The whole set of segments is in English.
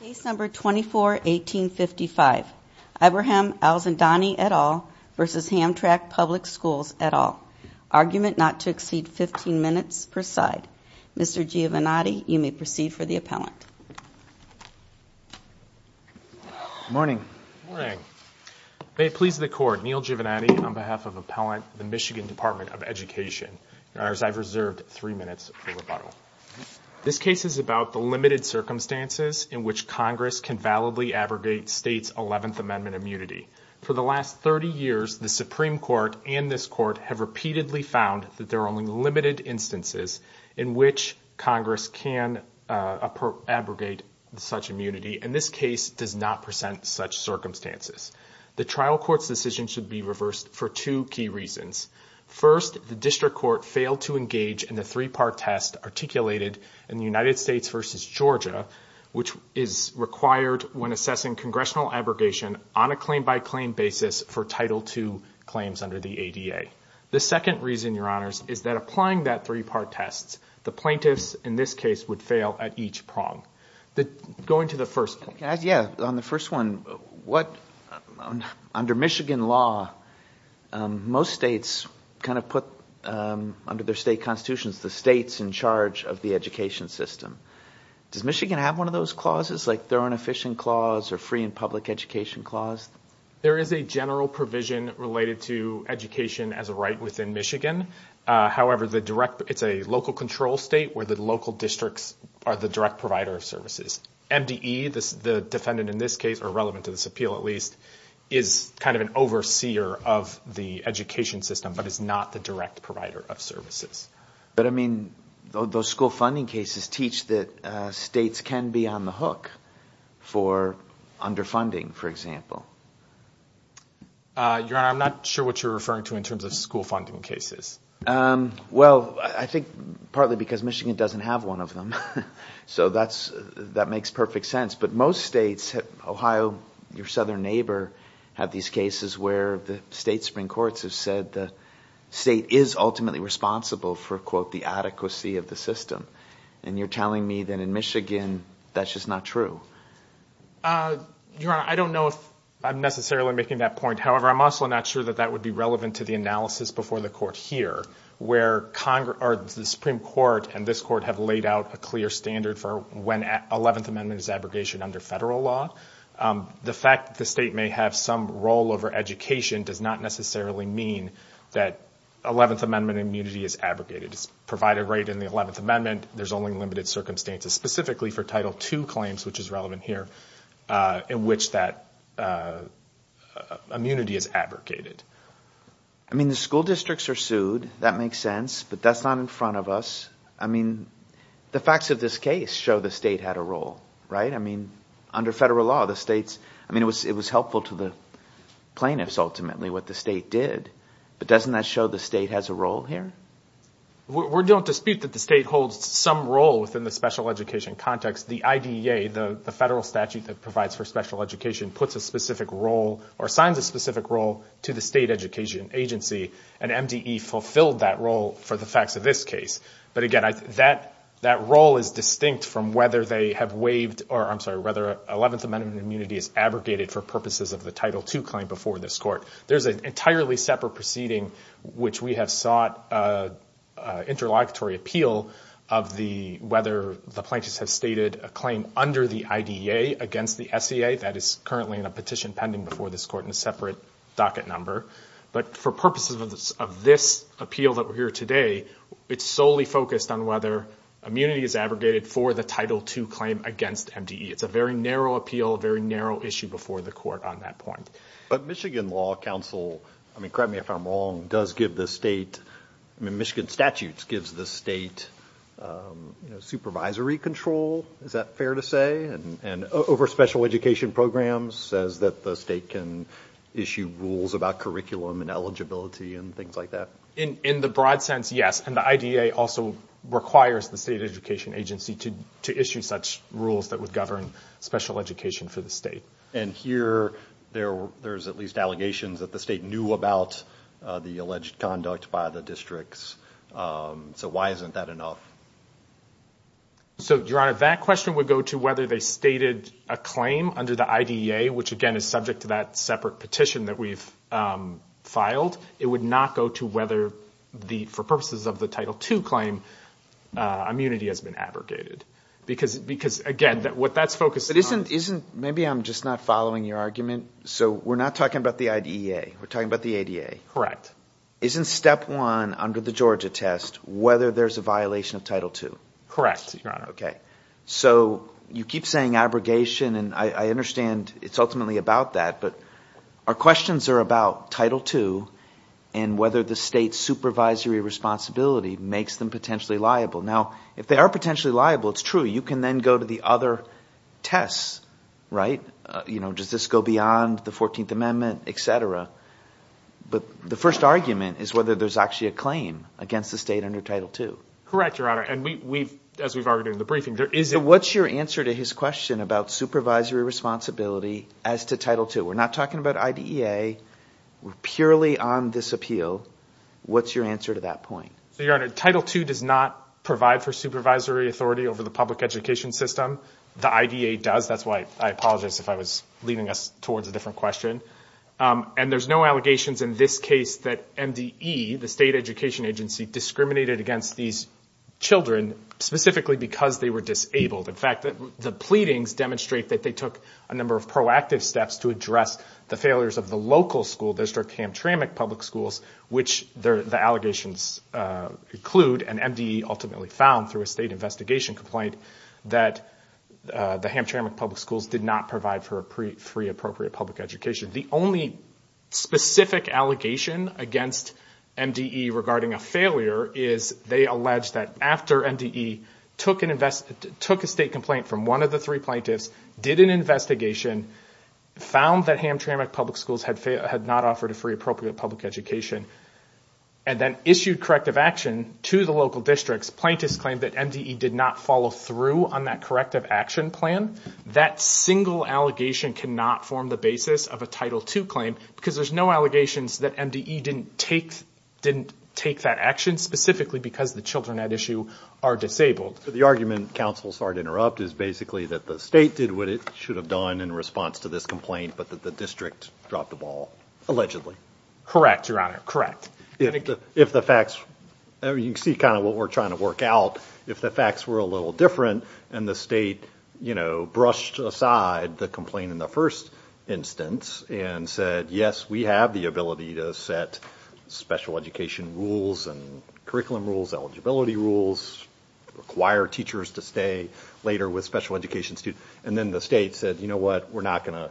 Case number 24-1855. Ibrahim Alzandani et al. v. Hamtramck Public Schools et al. Argument not to exceed 15 minutes per side. Mr. Giovannotti, you may proceed for the appellant. Good morning. May it please the court, Neil Giovannotti on behalf of Appellant the Michigan Department of Education. Your honors, I've reserved three minutes for rebuttal. This case is about the limited circumstances in which Congress can validly abrogate state's 11th Amendment immunity. For the last 30 years, the Supreme Court and this court have repeatedly found that there are only limited instances in which Congress can abrogate such immunity, and this case does not present such circumstances. The trial court's decision should be reversed for two key reasons. First, the district court failed to engage in the three-part test articulated in the United States v. Georgia, which is required when assessing congressional abrogation on a claim-by-claim basis for Title II claims under the ADA. The second reason, your honors, is that applying that three-part test, the plaintiffs in this case would fail at each prong. Going to the first one, under Michigan law, most states put under their state constitutions the states in charge of the education system. Does Michigan have one of those clauses, like their own efficient clause or free and public education clause? There is a general provision related to education as a right within Michigan. However, it's a local control state where the local districts are the direct provider of services. MDE, the defendant in this case, or relevant to this appeal at least, is kind of an overseer of the education system but is not the direct provider of services. But I mean, those school funding cases teach that states can be on the hook for underfunding, for example. Your honor, I'm not sure what you're referring to in terms of school funding cases. Well, I think partly because Michigan doesn't have one of them. So that makes perfect sense. But most states, Ohio, your southern neighbor, have these cases where the state Supreme Courts have said the state is ultimately responsible for, quote, the adequacy of the system. And you're telling me that in Michigan that's just not true. Your honor, I don't know if I'm necessarily making that point. However, I'm also not sure that that would be relevant to the analysis before the court here, where the Supreme Court and this court have laid out a clear standard for when 11th Amendment is abrogation under federal law. The fact that the state may have some role over education does not necessarily mean that 11th Amendment immunity is abrogated. It's provided right in the 11th Amendment. There's only limited circumstances, specifically for Title II claims, which is relevant here, in which that immunity is abrogated. I mean, the school districts are sued. That makes sense. But that's not in front of us. I mean, the facts of this case show the state had a role, right? I mean, under federal law, the states, I mean, it was helpful to the plaintiffs, ultimately, what the state did. But doesn't that show the state has a role here? We don't dispute that the state holds some role within the special education context. The IDEA, the federal statute that provides for special education, puts a specific role or assigns a specific role to the state education agency. And MDE fulfilled that role for the facts of this case. But again, that role is distinct from whether they have waived or, I'm sorry, whether 11th Amendment immunity is abrogated for purposes of the Title II claim before this court. There's an entirely separate proceeding, which we have sought interlocutory appeal of whether the plaintiffs have stated a claim under the IDEA against the SEA. That is currently in a petition pending before this court in a separate docket number. But for purposes of this appeal that we're here today, it's solely focused on whether immunity is abrogated for the Title II claim against MDE. It's a very narrow appeal, very narrow issue before the court on that point. But Michigan Law Council, I mean, correct me if I'm wrong, does give the state, I mean, Michigan statutes gives the state supervisory control. Is that fair to say? And over special education programs says that the state can issue rules about curriculum and eligibility and things like that? In the broad sense, yes. And the IDEA also requires the state education agency to issue such rules that would govern special education for the state. And here there's at least allegations that the state knew about the alleged conduct by the districts. So why isn't that enough? So, Your Honor, that question would go to whether they stated a claim under the IDEA, which again, is subject to that separate petition that we've filed. It would not go to whether the, for purposes of the Title II claim, immunity has been abrogated. Because again, what that's focused on- But isn't, maybe I'm just not following your argument. So we're not talking about the IDEA. We're talking about the ADA. Correct. Isn't step one under the Georgia test, whether there's a violation of Title II? Correct, Your Honor. Okay. So you keep saying abrogation, and I understand it's ultimately about that, but our questions are about Title II and whether the state supervisory responsibility makes them potentially liable. Now, if they are potentially liable, it's true. You can then go to the other tests, right? Does this go beyond the 14th Amendment, et cetera? But the first argument is whether there's actually a claim against the state under Title II. Correct, Your Honor. And we've, as we've argued in the briefing, there isn't- So what's your answer to his question about supervisory responsibility as to Title II? We're not talking about IDEA. We're purely on this appeal. What's your answer to that point? So, Your Honor, Title II does not provide for supervisory authority over the public education system. The IDEA does. That's why I apologized if I was leading us towards a different question. And there's no allegations in this case that MDE, the state education agency, discriminated against these children specifically because they were disabled. In fact, the pleadings demonstrate that they took a number of proactive steps to address the failures of the local school district, Hamtramck Public Schools, which the allegations include. And MDE ultimately found through a state investigation complaint that the Hamtramck Public Schools did not provide for a free appropriate public education. The only specific allegation against MDE regarding a failure is they allege that after MDE took a state complaint from one of the three plaintiffs, did an investigation, found that Hamtramck Public Schools had not offered a free appropriate public education, and then issued corrective action to the local districts, plaintiffs claimed that MDE did not follow through on that corrective action plan. That single allegation cannot form the basis of a Title II claim because there's no allegations that MDE didn't take that action specifically because the children at issue are disabled. The argument, counsel, sorry to interrupt, is basically that the state did what it should have done in response to this complaint, but that the district dropped the ball, allegedly. Correct, your honor, correct. If the facts, you can see kind of what we're trying to work out, if the facts were a little different and the state, you know, brushed aside the complaint in the first instance and said, yes, we have the ability to set special education rules and curriculum rules, eligibility rules, require teachers to stay later with special education students, and then the state said, you know what, we're not gonna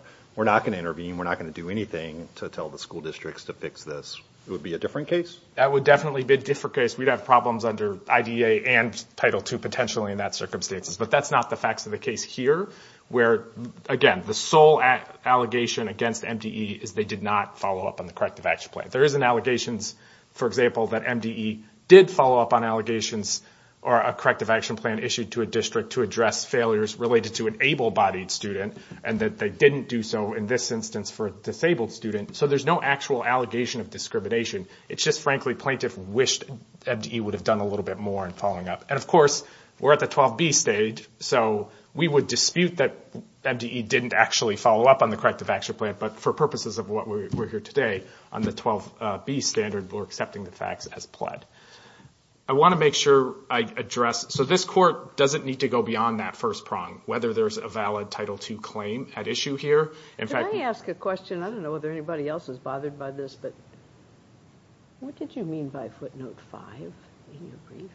intervene, we're not gonna do anything to tell the school districts to fix this, it would be a different case? That would definitely be a different case. We'd have problems under IDEA and Title II potentially in that circumstances, but that's not the facts of the case here where, again, the sole allegation against MDE is they did not follow up on the corrective action plan. There isn't allegations, for example, that MDE did follow up on allegations or a corrective action plan issued to a district to address failures related to an able-bodied student and that they didn't do so in this instance for a disabled student, so there's no actual allegation of discrimination. It's just, frankly, plaintiff wished MDE would have done a little bit more in following up, and of course, we're at the 12B stage, so we would dispute that MDE didn't actually follow up on the corrective action plan, but for purposes of what we're here today, on the 12B standard, we're accepting the facts as pled. I want to make sure I address, so this court doesn't need to go beyond that first prong, whether there's a valid Title II claim at issue here. In fact... Can I ask a question? I don't know if you have Footnote 5 in your brief.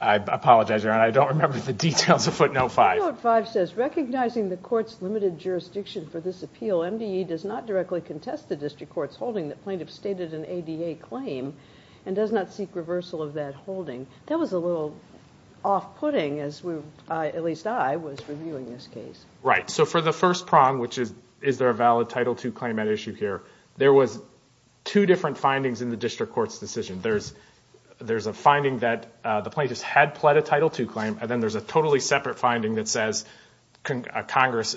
I apologize, Your Honor, I don't remember the details of Footnote 5. Footnote 5 says, recognizing the court's limited jurisdiction for this appeal, MDE does not directly contest the district court's holding that plaintiff stated an ADA claim and does not seek reversal of that holding. That was a little off-putting as we, at least I, was reviewing this case. Right, so for the first prong, which is, is there a valid Title II claim at issue here, there was two different findings in the district court's decision. There's a finding that the plaintiffs had pled a Title II claim, and then there's a totally separate finding that says 11th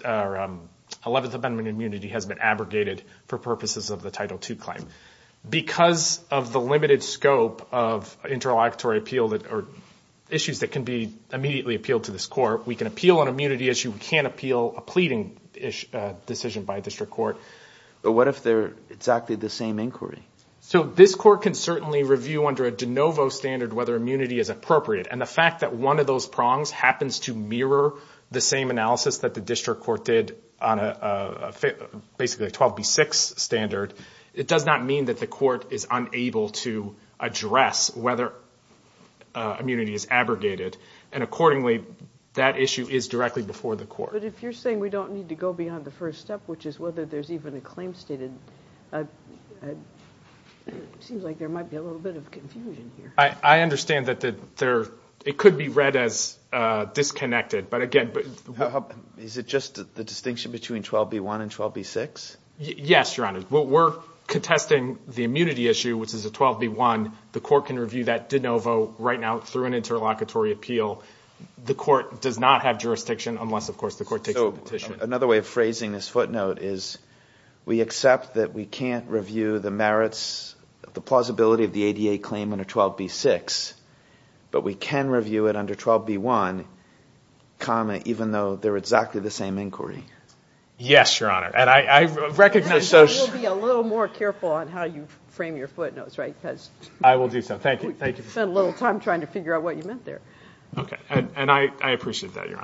Amendment immunity has been abrogated for purposes of the Title II claim. Because of the limited scope of interlocutory appeal, or issues that can be immediately appealed to this court, we can appeal an immunity issue, we can't appeal a pleading decision by a district court. But what if they're exactly the same inquiry? So this court can certainly review under a de novo standard whether immunity is appropriate, and the fact that one of those prongs happens to mirror the same analysis that the district court did on a basically a 12b6 standard, it does not mean that the court is unable to address whether immunity is abrogated. And accordingly, that issue is directly before the court. But if you're saying we don't need to go beyond the first step, which is whether there's even a claim stated, it seems like there might be a little bit of confusion here. I understand that it could be read as disconnected, but again... Is it just the distinction between 12b1 and 12b6? Yes, Your Honor. We're contesting the immunity issue, which is a 12b1, the court can review that de novo right now through an interlocutory appeal. The court does not have jurisdiction unless, of course, the court takes a petition. Another way of phrasing this footnote is we accept that we can't review the merits, the plausibility of the ADA claim under 12b6, but we can review it under 12b1, comma, even though they're exactly the same inquiry. Yes, Your Honor. And I recognize... Then you'll be a little more careful on how you frame your footnotes, right? I will do so. Thank you. Thank you. Spent a little time trying to figure out what you meant there. Okay. And I appreciate that, Your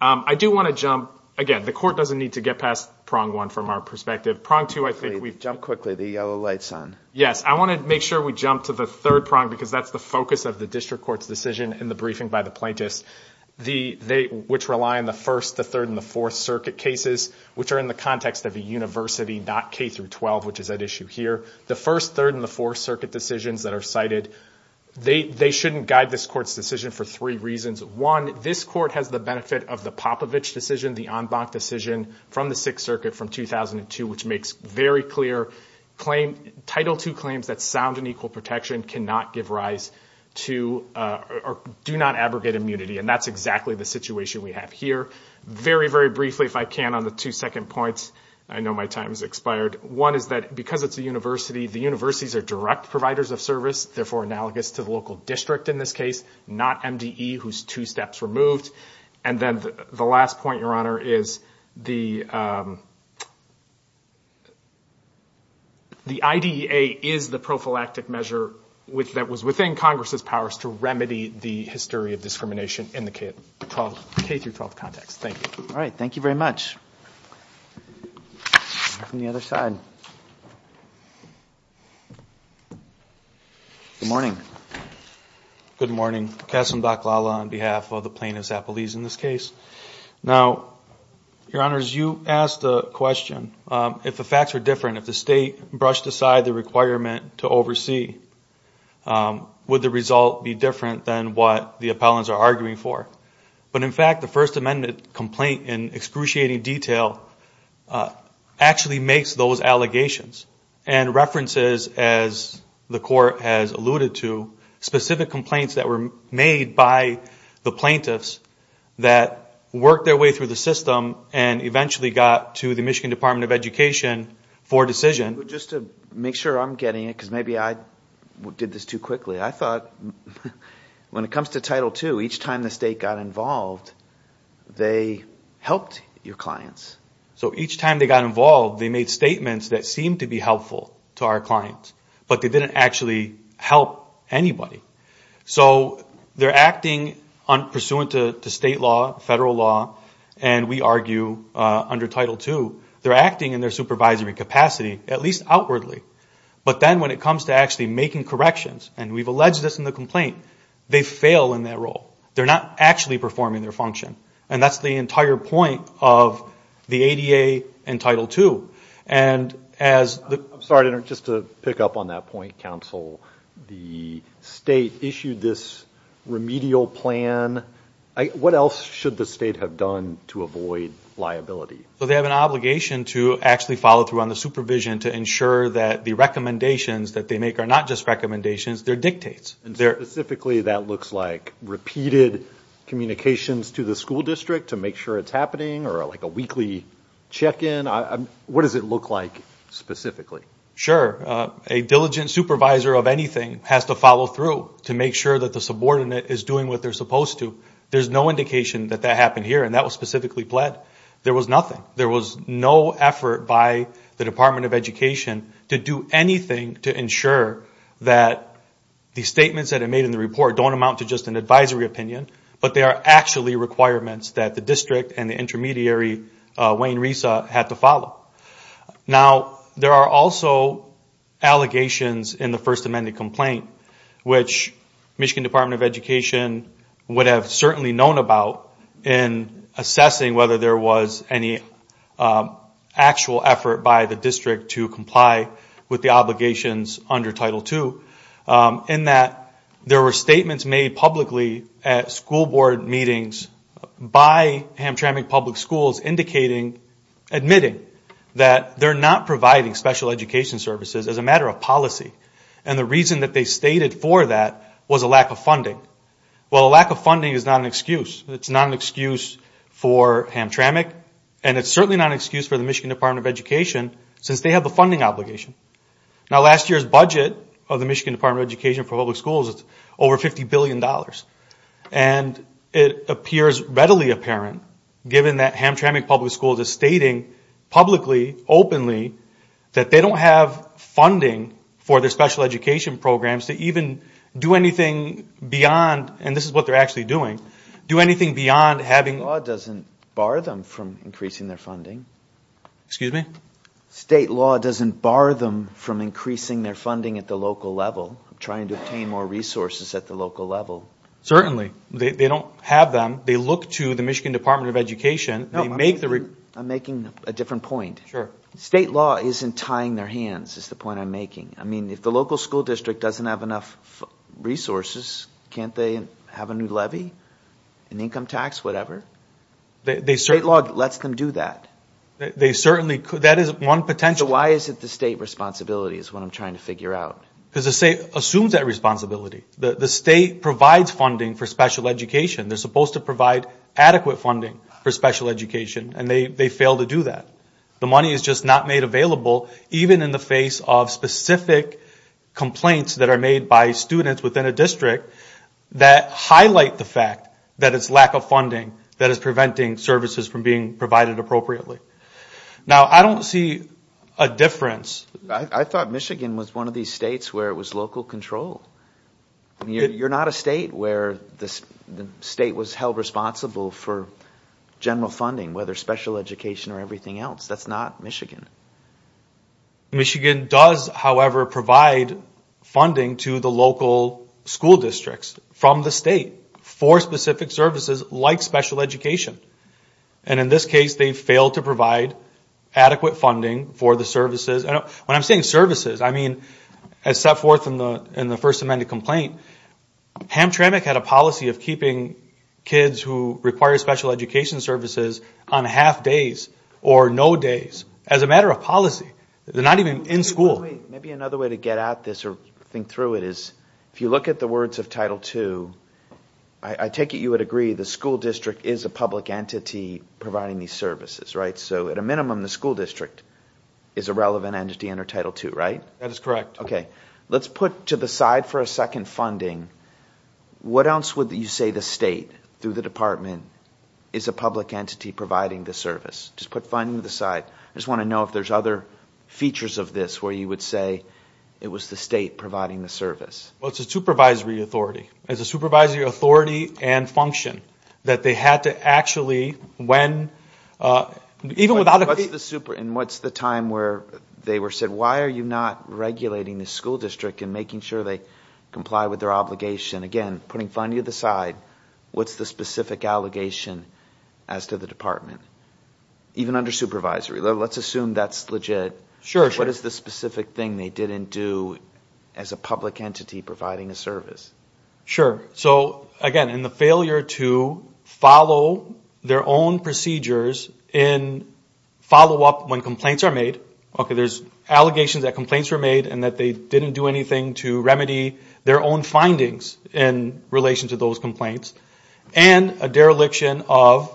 Honor. I do want to jump... Again, the court doesn't need to get past prong one from our perspective. Prong two, I think we've... Jump quickly. The yellow light's on. Yes. I want to make sure we jump to the third prong, because that's the focus of the district court's decision in the briefing by the plaintiffs, which rely on the first, the third, and the fourth circuit cases, which are in the context of a university, not K-12, which is at issue here. The first, third, and the fourth circuit decisions that are cited, they shouldn't guide this court's decision for three reasons. One, this court has the benefit of the Popovich decision, the en banc decision from the Sixth Circuit from 2002, which makes very clear claim... Title II claims that sound and equal protection cannot give rise to... Do not abrogate immunity. And that's exactly the situation we have here. Very, very briefly, if I can, on the two second points. I know my time has expired. One is that because it's a university, the universities are direct providers of service. Therefore, analogous to the local district in this case, not MDE, who's two steps removed. And then the last point, Your Honor, is the... The IDEA is the prophylactic measure that was within Congress's powers to remedy the history of discrimination in the K-12 context. Thank you. All right. Thank you very much. From the other side. Good morning. Good morning. Kasim Dakhlala on behalf of the plaintiffs' appellees in this case. Now, Your Honors, you asked a question. If the facts were different, if the state brushed aside the requirement to oversee, would the result be different than what the appellants are arguing for? But in fact, the First Amendment complaint in excruciating detail actually makes those allegations and references, as the Court has alluded to, specific complaints that were made by the plaintiffs that worked their way through the system and eventually got to the Michigan Department of Education for a decision. Just to make sure I'm getting it, because maybe I did this too quickly. I thought when it comes to Title II, each time the state got involved, they helped your clients. So each time they got involved, they made statements that seemed to be helpful to our clients, but they didn't actually help anybody. So they're acting pursuant to state law, federal law, and we argue under Title II, they're acting in their supervisory capacity, at least outwardly. But then when it comes to actually making corrections, and we've alleged this in the complaint, they fail in that role. They're not actually performing their function. And that's the entire point of the ADA and Title II. And as the... I'm sorry, just to pick up on that point, counsel. The state issued this remedial plan. What else should the state have done to avoid liability? Well, they have an obligation to actually follow through on the supervision to ensure that the recommendations that they make are not just recommendations, they're dictates. Specifically, that looks like repeated communications to the school district to make sure it's happening, or like a weekly check-in. What does it look like specifically? Sure, a diligent supervisor of anything has to follow through to make sure that the subordinate is doing what they're supposed to. There's no indication that that happened here, and that was specifically pled. There was nothing. There was no effort by the Department of Education to do anything to ensure that the statements that are made in the report don't amount to just an advisory opinion, but they are actually requirements that the district and the intermediary, Wayne Resa, had to follow. Now, there are also allegations in the First Amendment complaint, which Michigan Department of Education would have certainly known about in assessing whether there was any actual effort by the district to comply with the obligations under Title II. In that, there were statements made publicly at school board meetings by Hamtramck Public Schools indicating, admitting, that they're not providing special education services as a matter of policy. And the reason that they stated for that was a lack of funding. Well, a lack of funding is not an excuse. It's not an excuse for Hamtramck, and it's certainly not an excuse for the Michigan Department of Education, since they have the funding obligation. Now, last year's budget of the Michigan Department of Education for public schools is over $50 billion, and it appears readily apparent, given that Hamtramck Public Schools is stating publicly, openly, that they don't have funding for their special education programs to even do anything beyond, and this is what they're actually doing, do anything beyond having... Law doesn't bar them from increasing their funding. Excuse me? State law doesn't bar them from increasing their funding at the local level, trying to obtain more resources at the local level. Certainly, they don't have them. They look to the Michigan Department of Education, they make the... I'm making a different point. Sure. State law isn't tying their hands, is the point I'm making. I mean, if the local school district doesn't have enough resources, can't they have a new levy, an income tax, whatever? They certainly... State law lets them do that. They certainly could. That is one potential... Why is it the state responsibility is what I'm trying to figure out. Because the state assumes that responsibility. The state provides funding for special education. They're supposed to provide adequate funding for special education, and they fail to do that. The money is just not made available, even in the face of specific complaints that are made by students within a district that highlight the fact that it's lack of funding that is preventing services from being provided appropriately. Now, I don't see a difference... I thought Michigan was one of these states where it was local control. You're not a state where the state was held responsible for general funding, whether special education or everything else. That's not Michigan. Michigan does, however, provide funding to the local school districts from the state for specific services like special education. In this case, they failed to provide adequate funding for the services. When I'm saying services, I mean, as set forth in the First Amendment complaint, Hamtramck had a policy of keeping kids who require special education services on half days or no days as a matter of policy. They're not even in school. Maybe another way to get at this or think through it is if you look at the words of Title II, I take it you would agree the school district is a public entity providing these services, right? So at a minimum, the school district is a relevant entity under Title II, right? That is correct. Okay. Let's put to the side for a second funding. What else would you say the state through the department is a public entity providing the service? Just put funding to the side. I just want to know if there's other features of this where you would say it was the state providing the service. It's a supervisory authority. It's a supervisory authority and function that they had to actually, when... Even without... And what's the time where they were said, why are you not regulating the school district and making sure they comply with their obligation? Again, putting funding to the side. What's the specific allegation as to the department? Even under supervisory, let's assume that's legit. Sure. What is the specific thing they didn't do as a public entity providing a service? Sure. So again, in the failure to follow their own procedures in follow-up when complaints are made, okay, there's allegations that complaints were made and that they didn't do anything to remedy their own findings in relation to those complaints, and a dereliction of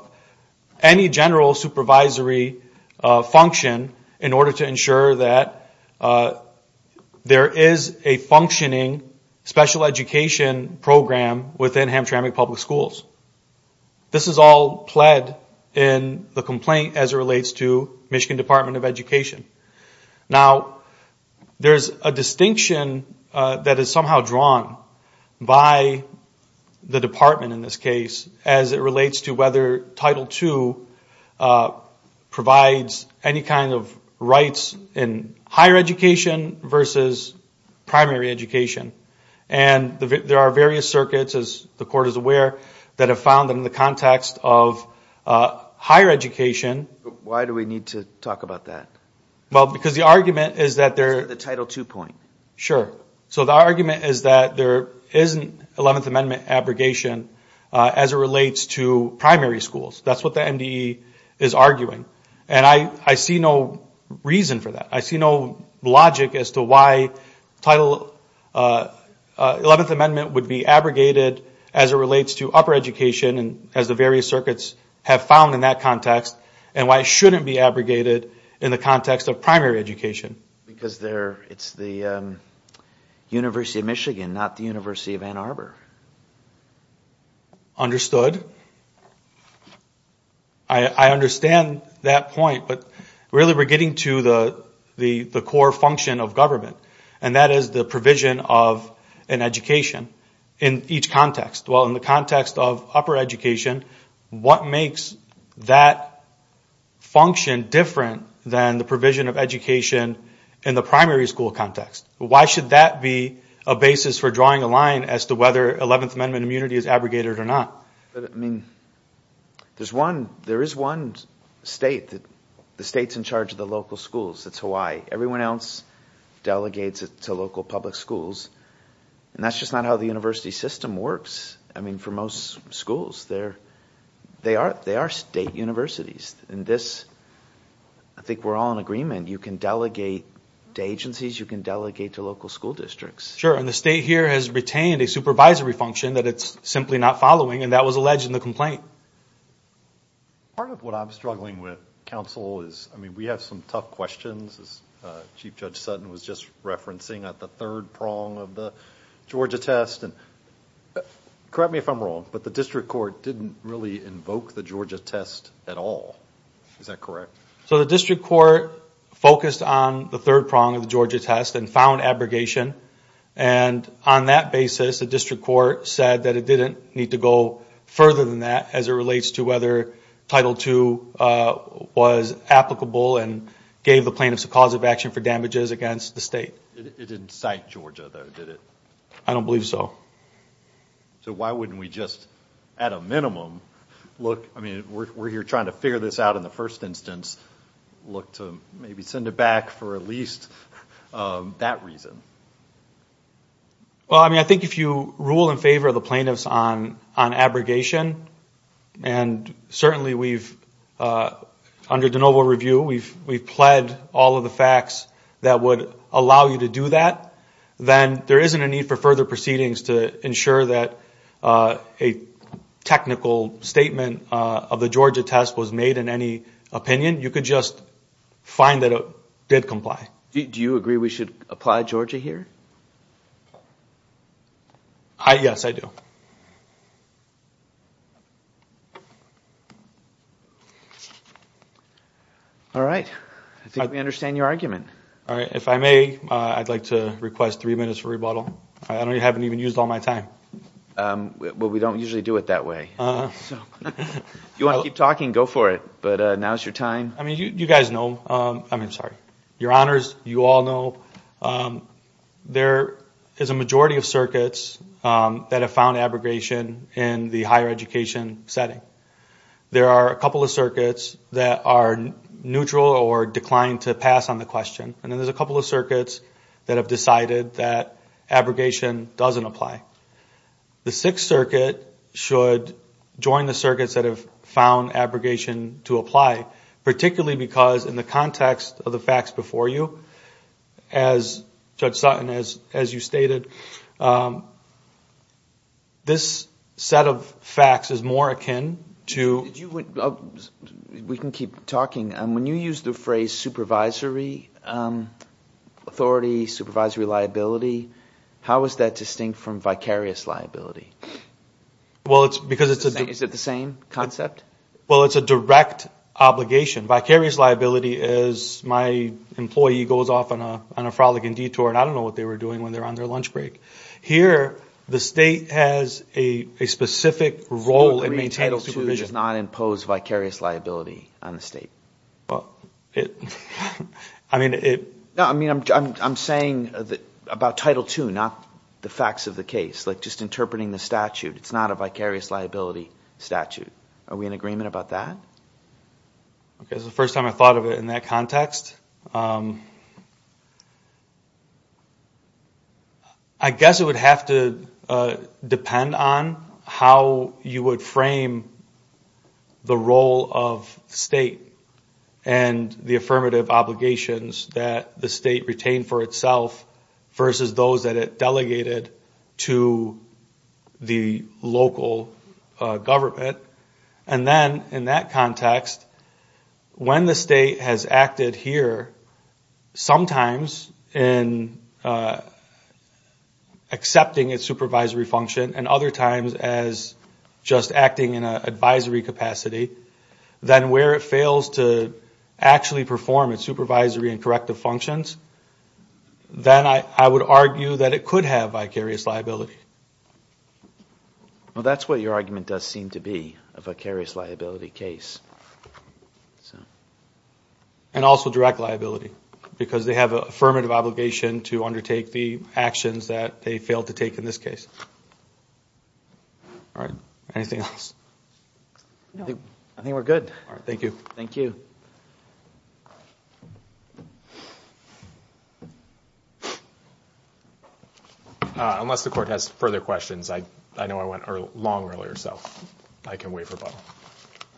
any general supervisory function in order to ensure that there is a functioning special education program within Hamtramck Public Schools. This is all pled in the complaint as it relates to Michigan Department of Education. Now, there's a distinction that is somehow drawn by the department in this case as it relates to whether Title II provides any kind of rights in higher education versus primary education. And there are various circuits, as the court is aware, that have found them in the context of higher education. Why do we need to talk about that? Well, because the argument is that there... The Title II point. Sure. So the argument is that there isn't 11th Amendment abrogation as it relates to primary schools. That's what the MDE is arguing. And I see no reason for that. I see no logic as to why 11th Amendment would be abrogated as it relates to upper education and as the various circuits have found in that context, and why it shouldn't be abrogated in the context of primary education. Because it's the University of Michigan, not the University of Ann Arbor. Understood. I understand that point. But really, we're getting to the core function of government. And that is the provision of an education in each context. Well, in the context of upper education, what makes that function different than the provision of education in the primary school context? Why should that be a basis for drawing a line as to whether 11th Amendment immunity is abrogated or not? But I mean, there's one... There is one state that... The state's in charge of the local schools. That's Hawaii. Everyone else delegates it to local public schools. And that's just not how the university system works. I mean, for most schools, they are state universities. And this... I think we're all in agreement. You can delegate to agencies, you can delegate to local school districts. Sure. And the state here has retained a supervisory function that it's simply not following. And that was alleged in the complaint. Part of what I'm struggling with, counsel, is... I mean, we have some tough questions, as Chief Judge Sutton was just referencing, at the third prong of the Georgia test. And correct me if I'm wrong, but the district court didn't really invoke the Georgia test at all. Is that correct? So the district court focused on the third prong of the Georgia test and found abrogation. And on that basis, the district court said that it didn't need to go further than that as it relates to whether Title II was applicable and gave the plaintiffs a cause of action for damages against the state. It didn't cite Georgia, though, did it? I don't believe so. So why wouldn't we just, at a minimum, look... I mean, we're here trying to figure this out in the first instance. Look to maybe send it back for at least that reason. Well, I mean, I think if you rule in favor of the plaintiffs on abrogation, and certainly we've... Under de novo review, we've pled all of the facts that would allow you to do that, then there isn't a need for further proceedings to ensure that a technical statement of the Georgia test was made in any opinion. You could just find that it did comply. Do you agree we should apply Georgia here? Yes, I do. All right. I think we understand your argument. All right. If I may, I'd like to request three minutes for rebuttal. I haven't even used all my time. Well, we don't usually do it that way. If you want to keep talking, go for it. But now's your time. I mean, you guys know... I mean, sorry. Your honors, you all know there is a majority of circuits that have found abrogation in the higher education setting. There are a couple of circuits that are neutral or declined to pass on the question. And then there's a couple of circuits that have decided that abrogation doesn't apply. The Sixth Circuit should join the circuits that have found abrogation to apply, particularly because in the context of the facts before you, as Judge Sutton, as you stated, this set of facts is more akin to... We can keep talking. When you use the phrase supervisory authority, supervisory liability, how is that distinct from vicarious liability? Well, it's because it's a... Is it the same concept? Well, it's a direct obligation. Vicarious liability is... My employee goes off on a frolicking detour, and I don't know what they were doing when they're on their lunch break. Here, the state has a specific role in maintaining supervision. So Title II does not impose vicarious liability on the state? Well, it... I mean, it... I mean, I'm saying about Title II, not the facts of the case, like just interpreting the statute. It's not a vicarious liability statute. Are we in agreement about that? Okay, it's the first time I thought of it in that context. I guess it would have to depend on how you would frame the role of state and the affirmative obligations that the state retained for itself versus those that it delegated to the local government. And then in that context, when the state has acted here, sometimes in accepting its supervisory function and other times as just acting in an advisory capacity, then where it fails to actually perform its supervisory and corrective functions, then I would argue that it could have vicarious liability. Well, that's what your argument does seem to be, a vicarious liability case. And also direct liability, because they have an affirmative obligation to undertake the actions that they failed to take in this case. All right, anything else? No. I think we're good. All right, thank you. Thank you. Unless the court has further questions, I know I went long earlier, so I can waive rebuttal.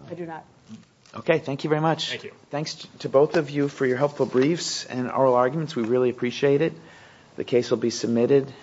I do not. Okay, thank you very much. Thank you. Thanks to both of you for your helpful briefs and oral arguments. We really appreciate it. The case will be submitted.